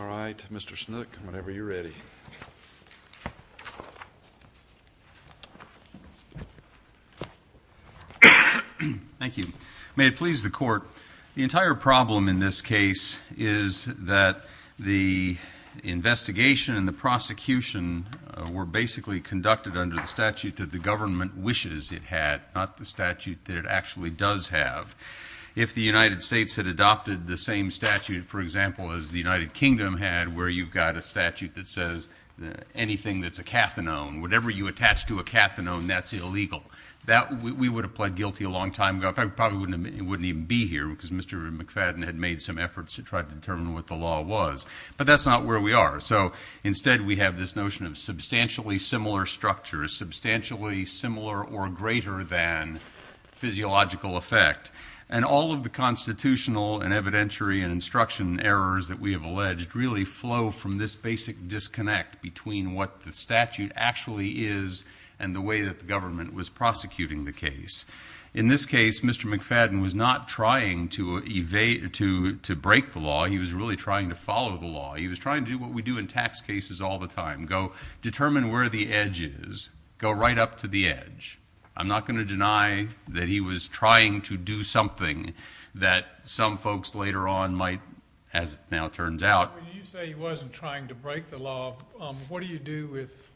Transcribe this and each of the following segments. All right, Mr. Snook, whenever you're ready. Thank you. May it please the Court, the entire problem in this case is that the investigation and the prosecution were basically conducted under the statute that the government wishes it had, not the statute that it actually does have. If the United States had adopted the same statute, for example, as the United Kingdom had, where you've got a statute that says anything that's a cathinone, whatever you attach to a cathinone, that's illegal. We would have pled guilty a long time ago. I probably wouldn't even be here because Mr. McFadden had made some efforts to try to determine what the law was, but that's not where we are. So instead we have this notion of substantially similar structures, substantially similar or greater than physiological effect. And all of the constitutional and evidentiary and instruction errors that we have alleged really flow from this basic disconnect between what the statute actually is and the way that the government was prosecuting the case. In this case, Mr. McFadden was not trying to break the law. He was really trying to follow the law. He was trying to do what we do in tax cases all the time, go determine where the edge is, go right up to the edge. I'm not going to deny that he was trying to do something that some folks later on might, as it now turns out. When you say he wasn't trying to break the law, what do you do with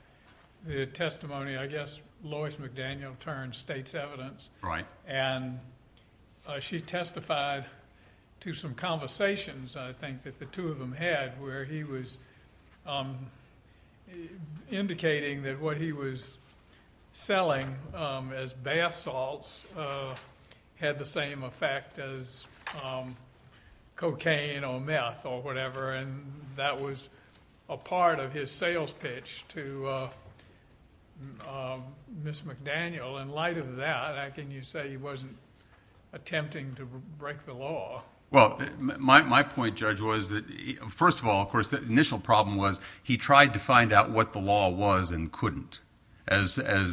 the testimony, I guess, Lois McDaniel turns, states evidence. Right. And she testified to some conversations, I think, that the two of them had where he was indicating that what he was selling as bath salts had the same effect as cocaine or meth or whatever. And that was a part of his sales pitch to Ms. McDaniel. In light of that, can you say he wasn't attempting to break the law? Well, my point, Judge, was that first of all, of course, the initial problem was he tried to find out what the law was and couldn't. Basically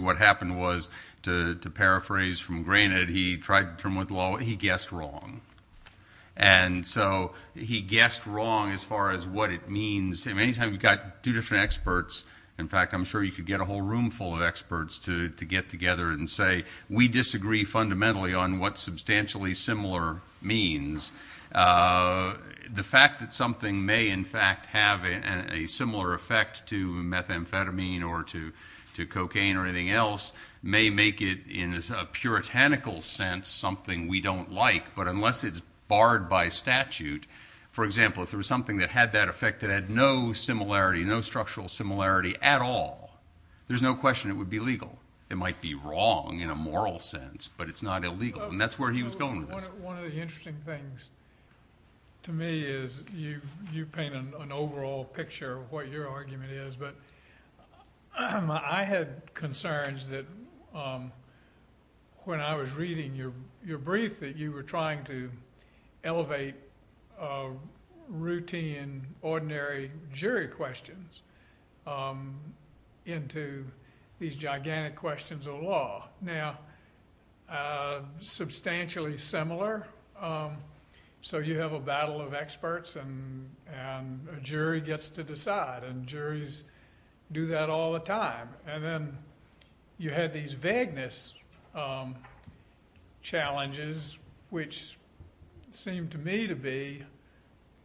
what happened was, to paraphrase from Granite, he tried to determine what the law was. He guessed wrong. And so he guessed wrong as far as what it means. Any time you've got two different experts, in fact, I'm sure you could get a whole room full of experts to get together and say we disagree fundamentally on what substantially similar means. The fact that something may, in fact, have a similar effect to methamphetamine or to cocaine or anything else may make it in a puritanical sense something we don't like. But unless it's barred by statute, for example, if there was something that had that effect that had no similarity, no structural similarity at all, there's no question it would be legal. It might be wrong in a moral sense, but it's not illegal. And that's where he was going with this. One of the interesting things to me is you paint an overall picture of what your argument is, but I had concerns that when I was reading your brief that you were trying to elevate routine, ordinary jury questions into these gigantic questions of law. Now, substantially similar, so you have a battle of experts and a jury gets to decide, and juries do that all the time. And then you had these vagueness challenges, which seemed to me to be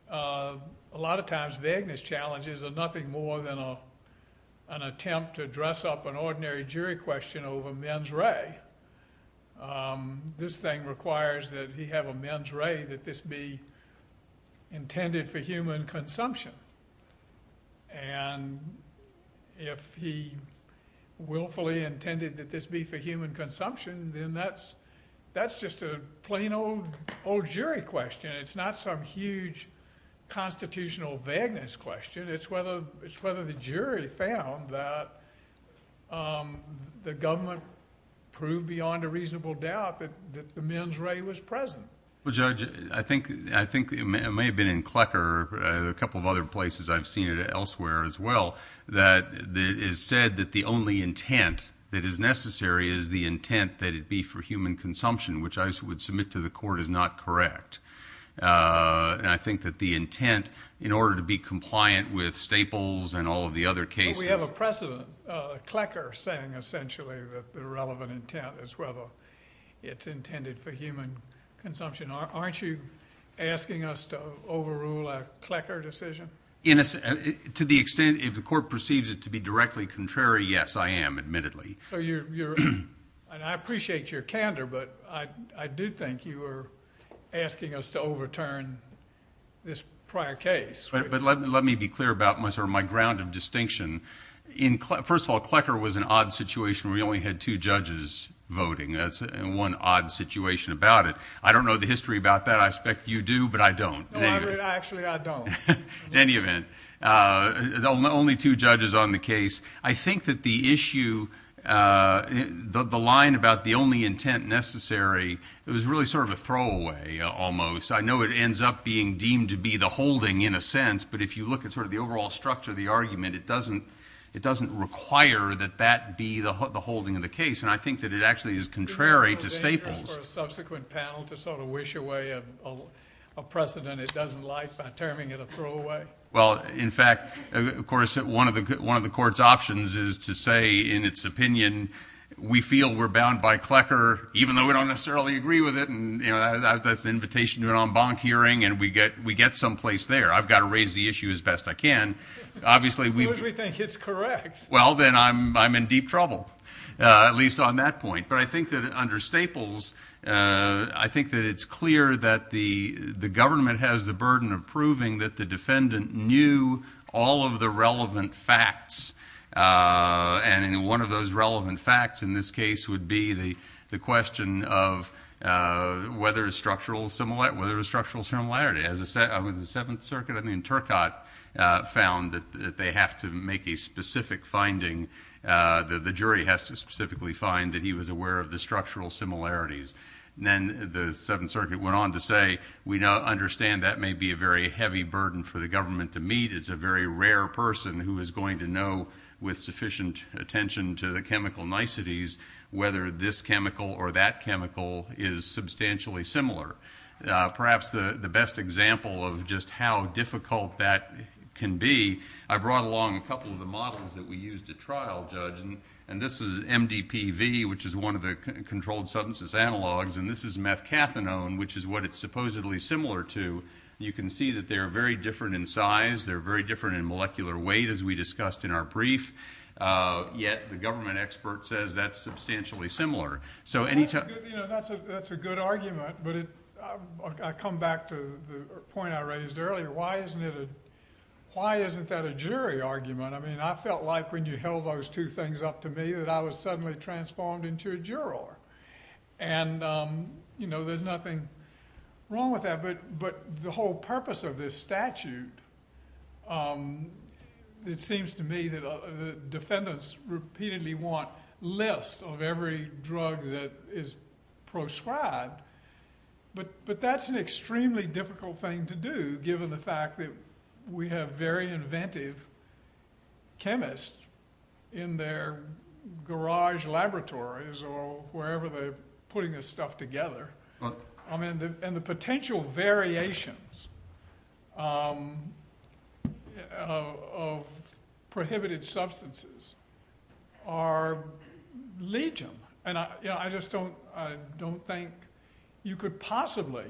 a lot of times vagueness challenges are nothing more than an attempt to dress up an ordinary jury question over mens re. This thing requires that he have a mens re that this be intended for human consumption. And if he willfully intended that this be for human consumption, then that's just a plain old jury question. It's not some huge constitutional vagueness question. It's whether the jury found that the government proved beyond a reasonable doubt that the mens re was present. Well, Judge, I think it may have been in Klecker or a couple of other places I've seen it elsewhere as well that it is said that the only intent that is necessary is the intent that it be for human consumption, which I would submit to the court is not correct. And I think that the intent, in order to be compliant with Staples and all of the other cases... But we have a precedent, Klecker saying essentially that the relevant intent is whether it's intended for human consumption. Aren't you asking us to overrule a Klecker decision? To the extent if the court perceives it to be directly contrary, yes, I am, admittedly. And I appreciate your candor, but I do think you are asking us to overturn this prior case. But let me be clear about my ground of distinction. First of all, Klecker was an odd situation where you only had two judges voting. That's one odd situation about it. I don't know the history about that. I expect you do, but I don't. Actually, I don't. In any event, only two judges on the case. I think that the issue, the line about the only intent necessary, it was really sort of a throwaway, almost. I know it ends up being deemed to be the holding, in a sense, but if you look at sort of the overall structure of the argument, it doesn't require that that be the holding of the case. And I think that it actually is contrary to Staples. Is it of interest for a subsequent panel to sort of wish away a precedent it doesn't like by terming it a throwaway? Well, in fact, of course, one of the court's options is to say, in its opinion, we feel we're bound by Klecker, even though we don't necessarily agree with it, and that's an invitation to an en banc hearing, and we get someplace there. I've got to raise the issue as best I can. Who do we think is correct? Well, then I'm in deep trouble, at least on that point. But I think that under Staples, I think that it's clear that the government has the burden of proving that the defendant knew all of the relevant facts, and one of those relevant facts in this case would be the question of whether a structural similarity... ..whether a structural similarity. With the Seventh Circuit, I mean, Turcotte found that they have to make a specific finding, that the jury has to specifically find that he was aware of the structural similarities. Then the Seventh Circuit went on to say, we understand that may be a very heavy burden for the government to meet. It's a very rare person who is going to know, with sufficient attention to the chemical niceties, whether this chemical or that chemical is substantially similar. Perhaps the best example of just how difficult that can be, I brought along a couple of the models that we used at trial, Judge, and this is MDPV, which is one of the controlled sentences analogs, and this is methcathinone, which is what it's supposedly similar to. You can see that they're very different in size, they're very different in molecular weight, as we discussed in our brief, yet the government expert says that's substantially similar. That's a good argument, but I come back to the point I raised earlier. Why isn't that a jury argument? I mean, I felt like when you held those two things up to me that I was suddenly transformed into a juror. And, you know, there's nothing wrong with that, but the whole purpose of this statute, it seems to me that the defendants repeatedly want lists of every drug that is prescribed, but that's an extremely difficult thing to do, given the fact that we have very inventive chemists in their garage laboratories or wherever they're putting this stuff together, and the potential variations of prohibited substances are legion. And I just don't think you could possibly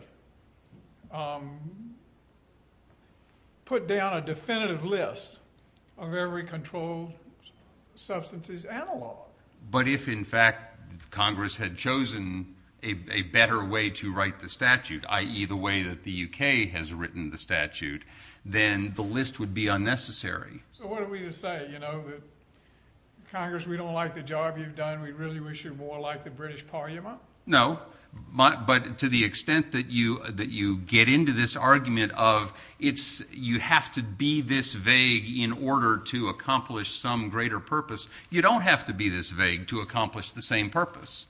put down a definitive list of every controlled substance as analog. But if, in fact, Congress had chosen a better way to write the statute, i.e. the way that the UK has written the statute, then the list would be unnecessary. So what are we to say, you know, that, Congress, we don't like the job you've done, we really wish you'd more like the British Parliament? No, but to the extent that you get into this argument of, you have to be this vague in order to accomplish some greater purpose, you don't have to be this vague to accomplish the same purpose.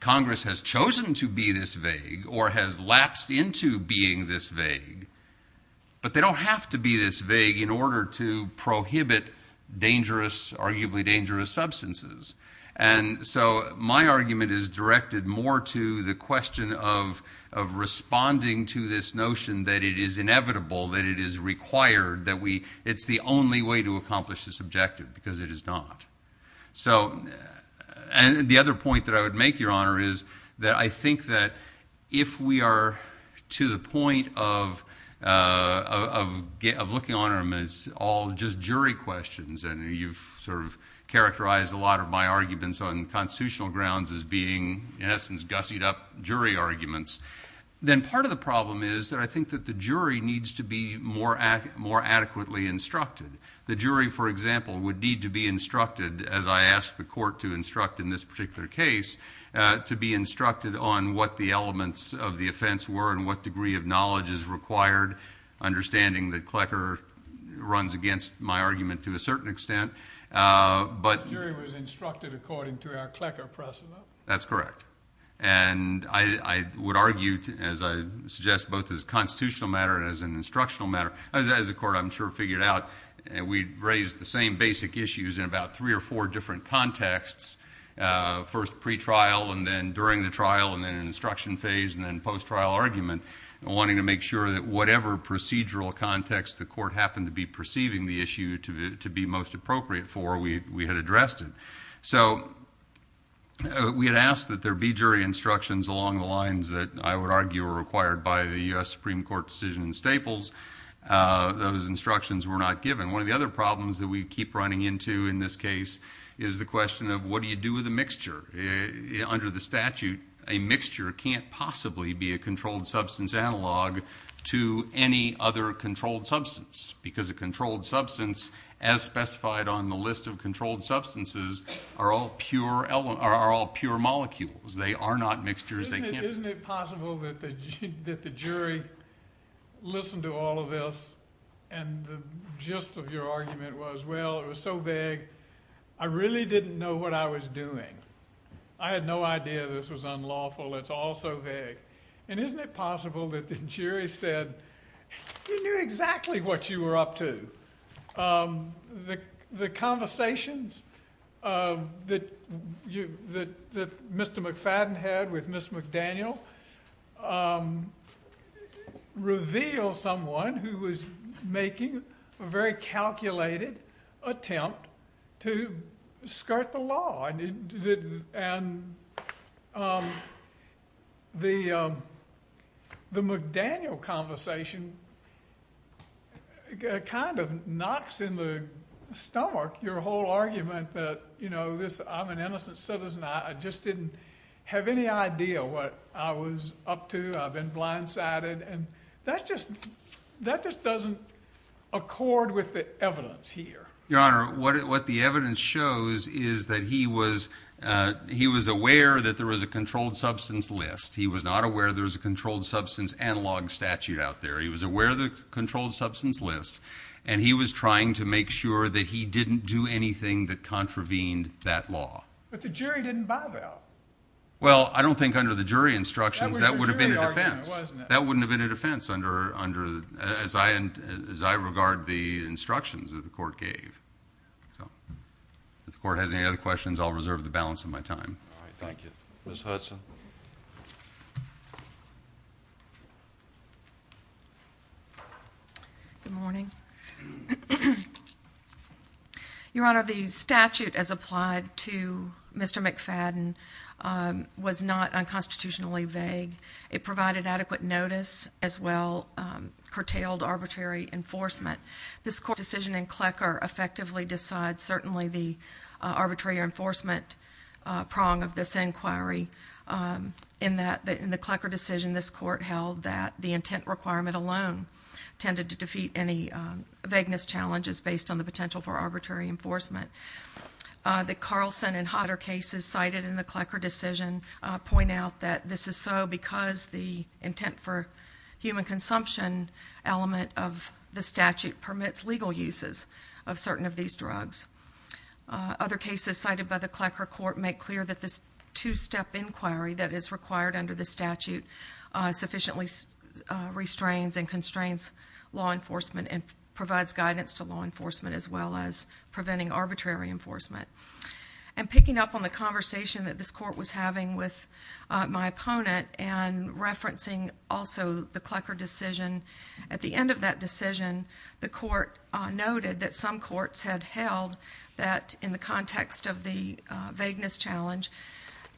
Congress has chosen to be this vague or has lapsed into being this vague, but they don't have to be this vague in order to prohibit dangerous, arguably dangerous substances. And so my argument is directed more to the question of responding to this notion that it is inevitable, that it is required, that it's the only way to accomplish this objective, because it is not. And the other point that I would make, Your Honor, is that I think that if we are to the point of looking on them as all just jury questions, and you've sort of characterized a lot of my arguments on constitutional grounds as being, in essence, gussied-up jury arguments, then part of the problem is that I think that the jury needs to be more adequately instructed. The jury, for example, would need to be instructed, as I ask the Court to instruct in this particular case, to be instructed on what the elements of the offense were and what degree of knowledge is required, understanding that Klecker runs against my argument to a certain extent. The jury was instructed according to our Klecker precedent. That's correct. And I would argue, as I suggest, both as a constitutional matter and as an instructional matter. As the Court, I'm sure, figured out, we raised the same basic issues in about three or four different contexts, first pre-trial and then during the trial and then in the instruction phase and then post-trial argument, wanting to make sure that whatever procedural context the Court happened to be perceiving the issue to be most appropriate for, we had addressed it. So we had asked that there be jury instructions along the lines that I would argue were required by the U.S. Supreme Court decision in Staples. Those instructions were not given. One of the other problems that we keep running into in this case is the question of what do you do with a mixture? Under the statute, a mixture can't possibly be a controlled substance analog to any other controlled substance because a controlled substance, as specified on the list of controlled substances, are all pure molecules. They are not mixtures. Isn't it possible that the jury listened to all of this and the gist of your argument was, well, it was so vague, I really didn't know what I was doing. I had no idea this was unlawful. It's all so vague. And isn't it possible that the jury said, you knew exactly what you were up to. The conversations that Mr. McFadden had with Ms. McDaniel reveal someone who was making a very calculated attempt to skirt the law. And the McDaniel conversation kind of knocks in the stomach your whole argument that, you know, I'm an innocent citizen. I just didn't have any idea what I was up to. I've been blindsided. And that just doesn't accord with the evidence here. Your Honor, what the evidence shows is that he was aware that there was a controlled substance list. He was not aware there was a controlled substance analog statute out there. He was aware of the controlled substance list, and he was trying to make sure that he didn't do anything that contravened that law. But the jury didn't buy that. Well, I don't think under the jury instructions that would have been a defense. That wouldn't have been a defense as I regard the instructions that the court gave. If the court has any other questions, I'll reserve the balance of my time. Thank you. Ms. Hudson. Good morning. Your Honor, the statute as applied to Mr. McFadden was not unconstitutionally vague. It provided adequate notice as well curtailed arbitrary enforcement. This court decision in Klecker effectively decides certainly the arbitrary enforcement prong of this inquiry. In the Klecker decision, this court held that the intent requirement alone tended to defeat any vagueness challenges based on the potential for arbitrary enforcement. The Carlson and Hodder cases cited in the Klecker decision point out that this is so because the intent for human consumption element of the statute permits legal uses of certain of these drugs. Other cases cited by the Klecker court make clear that this two-step inquiry that is required under the statute sufficiently restrains and constrains law enforcement and provides guidance to law enforcement as well as preventing arbitrary enforcement. And picking up on the conversation that this court was having with my opponent and referencing also the Klecker decision, at the end of that decision, the court noted that some courts had held that in the context of the vagueness challenge,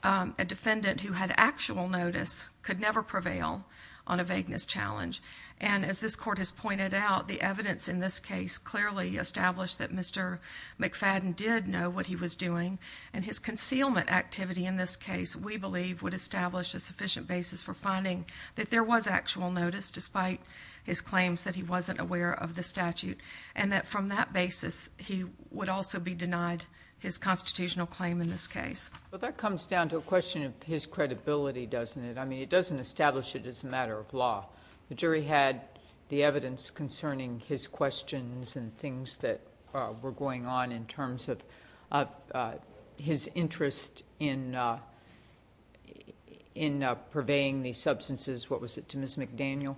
a defendant who had actual notice could never prevail on a vagueness challenge. And as this court has pointed out, the evidence in this case clearly established that Mr. McFadden did know what he was doing. And his concealment activity in this case, we believe, would establish a sufficient basis for finding that there was actual notice despite his claims that he wasn't aware of the statute. And that from that basis, he would also be denied his constitutional claim in this case. But that comes down to a question of his credibility, doesn't it? I mean, it doesn't establish it as a matter of law. The jury had the evidence concerning his questions and things that were going on in terms of his interest in purveying the substances. What was it, to Ms. McDaniel?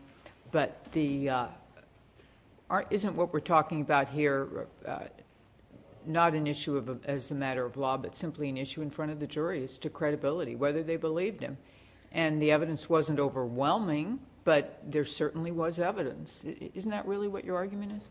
But isn't what we're talking about here not an issue as a matter of law but simply an issue in front of the jury as to credibility, whether they believed him? And the evidence wasn't overwhelming, but there certainly was evidence. Isn't that really what your argument is?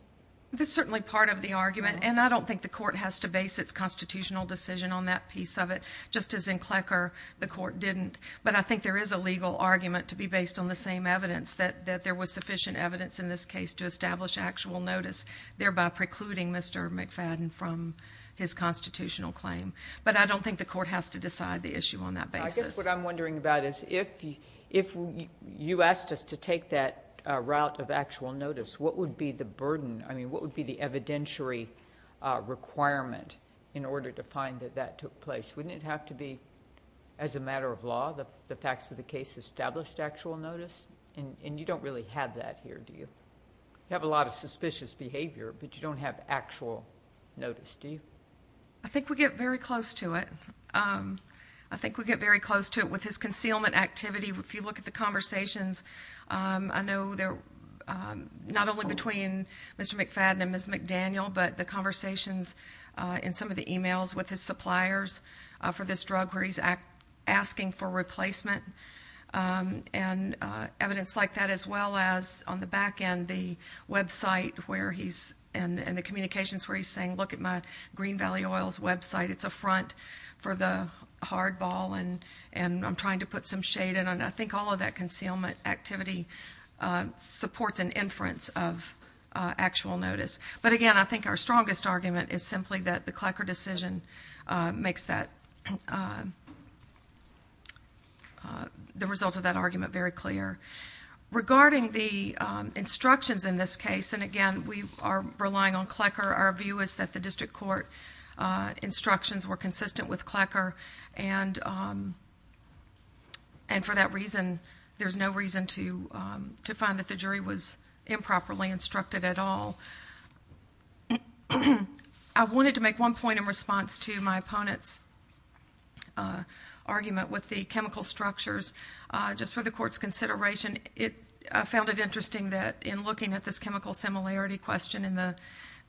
That's certainly part of the argument. And I don't think the court has to base its constitutional decision on that piece of it, just as in Klecker the court didn't. But I think there is a legal argument to be based on the same evidence, that there was sufficient evidence in this case to establish actual notice, thereby precluding Mr. McFadden from his constitutional claim. But I don't think the court has to decide the issue on that basis. I guess what I'm wondering about is if you asked us to take that route of actual notice, what would be the burden, I mean what would be the evidentiary requirement in order to find that that took place? Wouldn't it have to be, as a matter of law, the facts of the case established actual notice? And you don't really have that here, do you? You have a lot of suspicious behavior, but you don't have actual notice, do you? I think we get very close to it. I think we get very close to it with his concealment activity. If you look at the conversations, I know they're not only between Mr. McFadden and Ms. McDaniel, but the conversations in some of the emails with his suppliers for this drug, where he's asking for replacement and evidence like that, as well as on the back end the website and the communications where he's saying, if you look at my Green Valley Oils website, it's a front for the hardball, and I'm trying to put some shade in, and I think all of that concealment activity supports an inference of actual notice. But again, I think our strongest argument is simply that the Klecker decision makes the result of that argument very clear. Regarding the instructions in this case, and again, we are relying on Klecker. Our view is that the district court instructions were consistent with Klecker, and for that reason, there's no reason to find that the jury was improperly instructed at all. I wanted to make one point in response to my opponent's argument with the chemical structures. Just for the court's consideration, I found it interesting that in looking at this chemical similarity question in the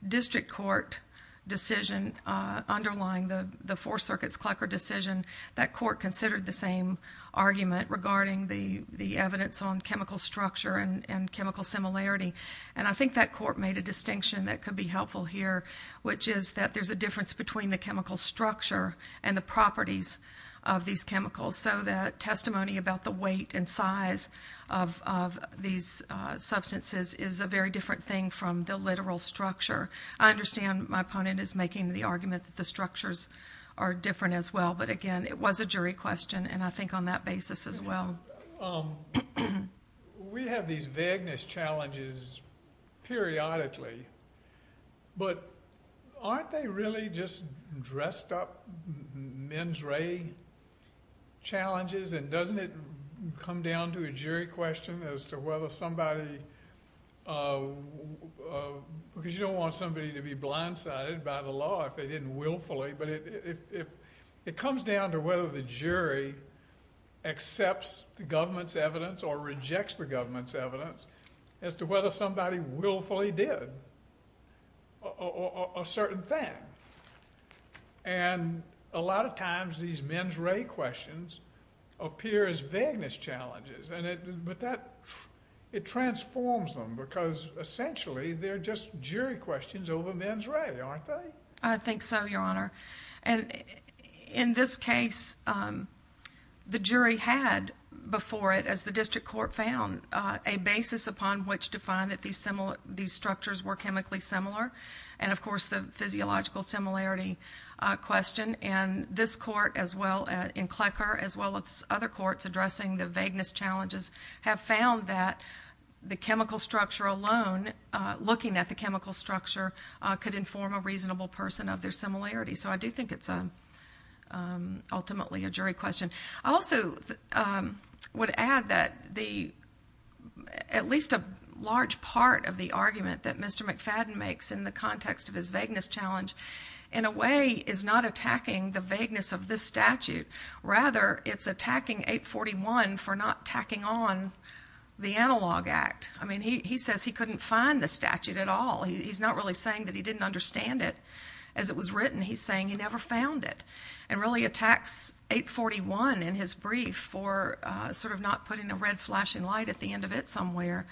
district court decision underlying the Fourth Circuit's Klecker decision, that court considered the same argument regarding the evidence on chemical structure and chemical similarity, and I think that court made a distinction that could be helpful here, which is that there's a difference between the chemical structure and the properties of these chemicals, so that testimony about the weight and size of these substances is a very different thing from the literal structure. I understand my opponent is making the argument that the structures are different as well, but again, it was a jury question, and I think on that basis as well. We have these vagueness challenges periodically, but aren't they really just dressed-up mens re challenges, and doesn't it come down to a jury question as to whether somebody, because you don't want somebody to be blindsided by the law if they didn't willfully, but it comes down to whether the jury accepts the government's evidence or rejects the government's evidence as to whether somebody willfully did a certain thing, and a lot of times these mens re questions appear as vagueness challenges, but it transforms them because essentially they're just jury questions over mens re, aren't they? I think so, Your Honor, and in this case, the jury had before it, as the district court found, a basis upon which to find that these structures were chemically similar, and of course the physiological similarity question, and this court as well, and Klecker as well as other courts addressing the vagueness challenges, have found that the chemical structure alone, looking at the chemical structure, could inform a reasonable person of their similarity, so I do think it's ultimately a jury question. I also would add that at least a large part of the argument that Mr. McFadden makes in the context of his vagueness challenge in a way is not attacking the vagueness of this statute. Rather, it's attacking 841 for not tacking on the Analog Act. He says he couldn't find the statute at all. He's not really saying that he didn't understand it as it was written. He's saying he never found it, and really attacks 841 in his brief for sort of not putting a red flashing light at the end of it somewhere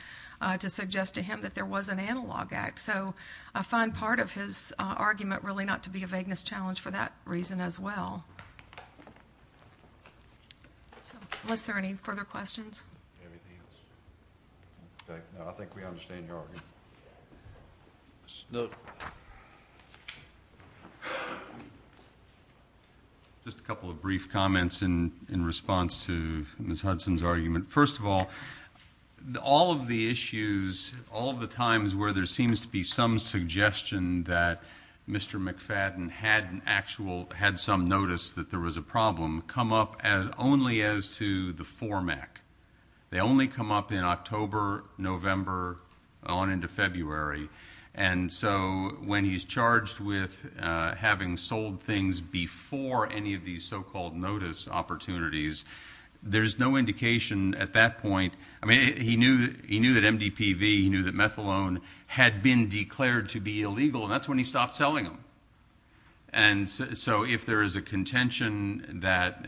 to suggest to him that there was an Analog Act. So I find part of his argument really not to be a vagueness challenge for that reason as well. So was there any further questions? Anything else? No, I think we understand your argument. No. Just a couple of brief comments in response to Ms. Hudson's argument. First of all, all of the issues, all of the times where there seems to be some suggestion that Mr. McFadden had some notice that there was a problem come up only as to the FORMAC. They only come up in October, November, on into February. So when he's charged with having sold things before any of these so-called notice opportunities, there's no indication at that point. He knew that MDPV, he knew that methadone had been declared to be illegal, and that's when he stopped selling them. So if there is a contention that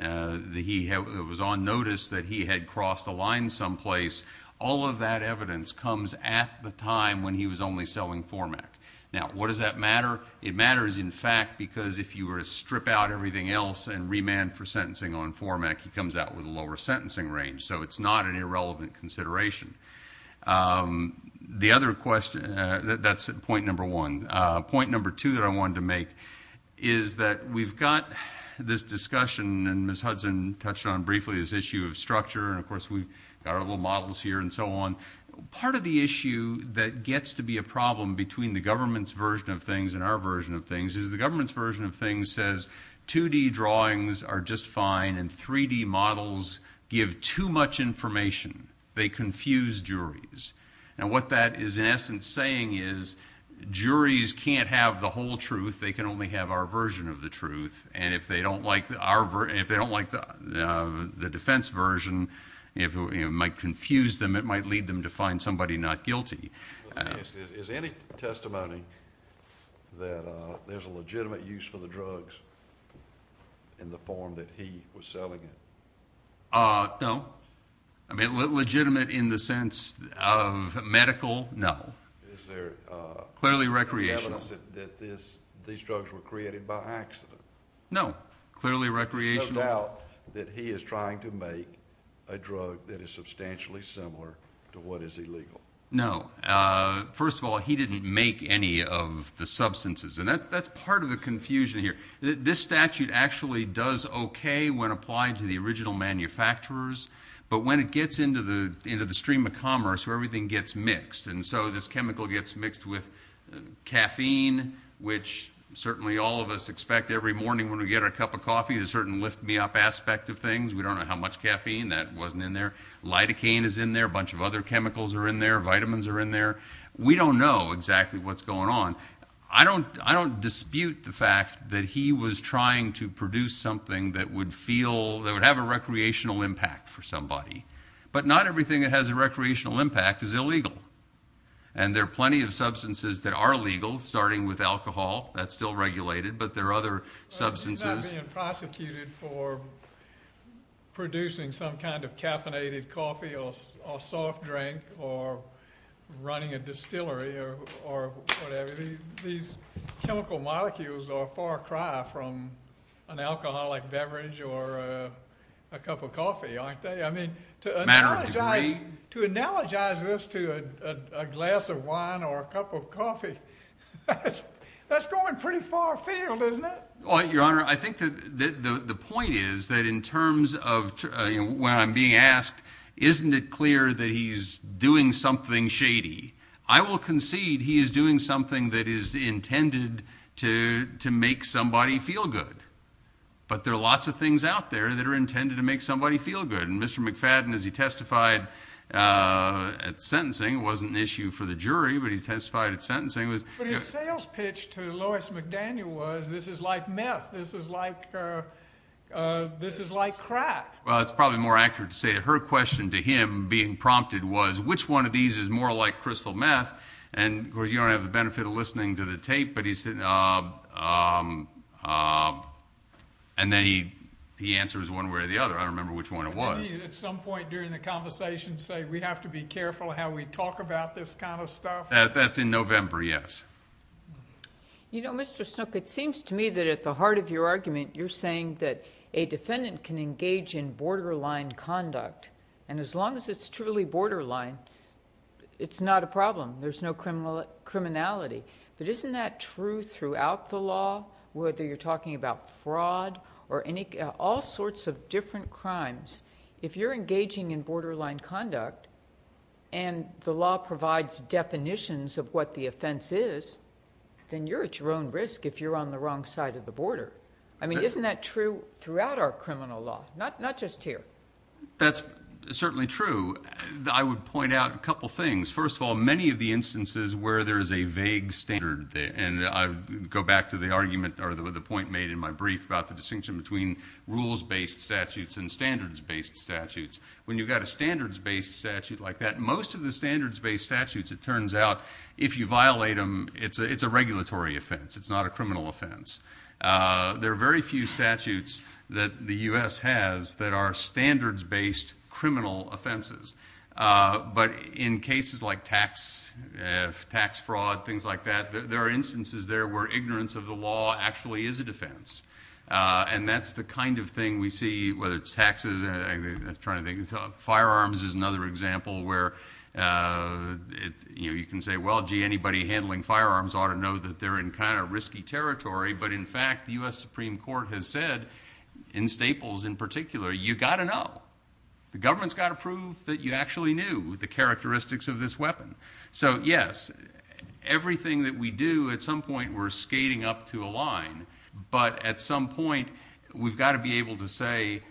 he was on notice that he had crossed a line someplace, all of that evidence comes at the time when he was only selling FORMAC. Now, what does that matter? It matters, in fact, because if you were to strip out everything else and remand for sentencing on FORMAC, he comes out with a lower sentencing range. So it's not an irrelevant consideration. That's point number one. Point number two that I wanted to make is that we've got this discussion, and Ms. Hudson touched on briefly this issue of structure, and of course we've got our little models here and so on. Part of the issue that gets to be a problem between the government's version of things and our version of things is the government's version of things says 2D drawings are just fine and 3D models give too much information. They confuse juries. Now, what that is in essence saying is juries can't have the whole truth. They can only have our version of the truth, and if they don't like the defense version, it might confuse them. It might lead them to find somebody not guilty. Is any testimony that there's a legitimate use for the drugs in the form that he was selling it? No. Legitimate in the sense of medical? No. Is there evidence that these drugs were created by accident? No. There's no doubt that he is trying to make a drug that is substantially similar to what is illegal? No. First of all, he didn't make any of the substances, and that's part of the confusion here. This statute actually does okay when applied to the original manufacturers, but when it gets into the stream of commerce where everything gets mixed, and so this chemical gets mixed with caffeine, which certainly all of us expect every morning when we get our cup of coffee, there's a certain lift-me-up aspect of things. We don't know how much caffeine that wasn't in there. Lidocaine is in there. A bunch of other chemicals are in there. Vitamins are in there. We don't know exactly what's going on. I don't dispute the fact that he was trying to produce something that would feel that would have a recreational impact for somebody, but not everything that has a recreational impact is illegal, and there are plenty of substances that are legal, starting with alcohol. That's still regulated, but there are other substances. He's not being prosecuted for producing some kind of caffeinated coffee or soft drink or running a distillery or whatever. These chemical molecules are a far cry from an alcoholic beverage or a cup of coffee, aren't they? Matter of degree? To analogize this to a glass of wine or a cup of coffee, that's going pretty far afield, isn't it? Your Honor, I think the point is that in terms of when I'm being asked, isn't it clear that he's doing something shady? I will concede he is doing something that is intended to make somebody feel good, but there are lots of things out there that are intended to make somebody feel good, and Mr. McFadden, as he testified at sentencing, it wasn't an issue for the jury, but he testified at sentencing. But his sales pitch to Lois McDaniel was this is like meth, this is like crack. Well, it's probably more accurate to say that her question to him being prompted was, which one of these is more like crystal meth? And, of course, you don't have the benefit of listening to the tape, but he said, and then he answers one way or the other. I don't remember which one it was. Did he at some point during the conversation say, we have to be careful how we talk about this kind of stuff? That's in November, yes. You know, Mr. Snook, it seems to me that at the heart of your argument, you're saying that a defendant can engage in borderline conduct, and as long as it's truly borderline, it's not a problem. There's no criminality. But isn't that true throughout the law, whether you're talking about fraud or all sorts of different crimes, if you're engaging in borderline conduct and the law provides definitions of what the offense is, then you're at your own risk if you're on the wrong side of the border. I mean, isn't that true throughout our criminal law, not just here? That's certainly true. I would point out a couple things. First of all, many of the instances where there is a vague standard, and I would go back to the argument or the point made in my brief about the distinction between rules-based statutes and standards-based statutes, when you've got a standards-based statute like that, most of the standards-based statutes, it turns out, if you violate them, it's a regulatory offense. It's not a criminal offense. There are very few statutes that the U.S. has that are standards-based criminal offenses. But in cases like tax fraud, things like that, there are instances there where ignorance of the law actually is a defense, and that's the kind of thing we see, whether it's taxes. Firearms is another example where you can say, well, gee, anybody handling firearms ought to know that they're in kind of risky territory, but, in fact, the U.S. Supreme Court has said, in Staples in particular, you've got to know. The government's got to prove that you actually knew the characteristics of this weapon. So, yes, everything that we do, at some point we're skating up to a line, but at some point we've got to be able to say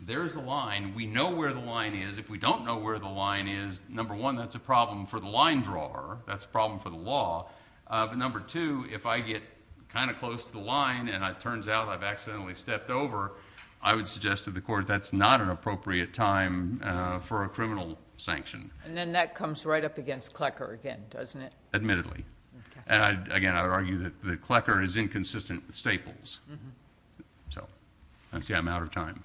there's a line, we know where the line is. If we don't know where the line is, number one, that's a problem for the line drawer, that's a problem for the law. But, number two, if I get kind of close to the line and it turns out I've accidentally stepped over, I would suggest to the court that's not an appropriate time for a criminal sanction. And then that comes right up against Klecker again, doesn't it? Admittedly. Okay. And, again, I would argue that Klecker is inconsistent with Staples. Mm-hmm. So, I'm out of time.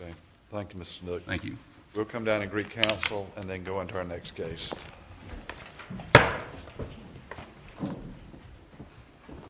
Okay. Thank you, Mr. Snook. Thank you. We'll come down and greet counsel and then go into our next case.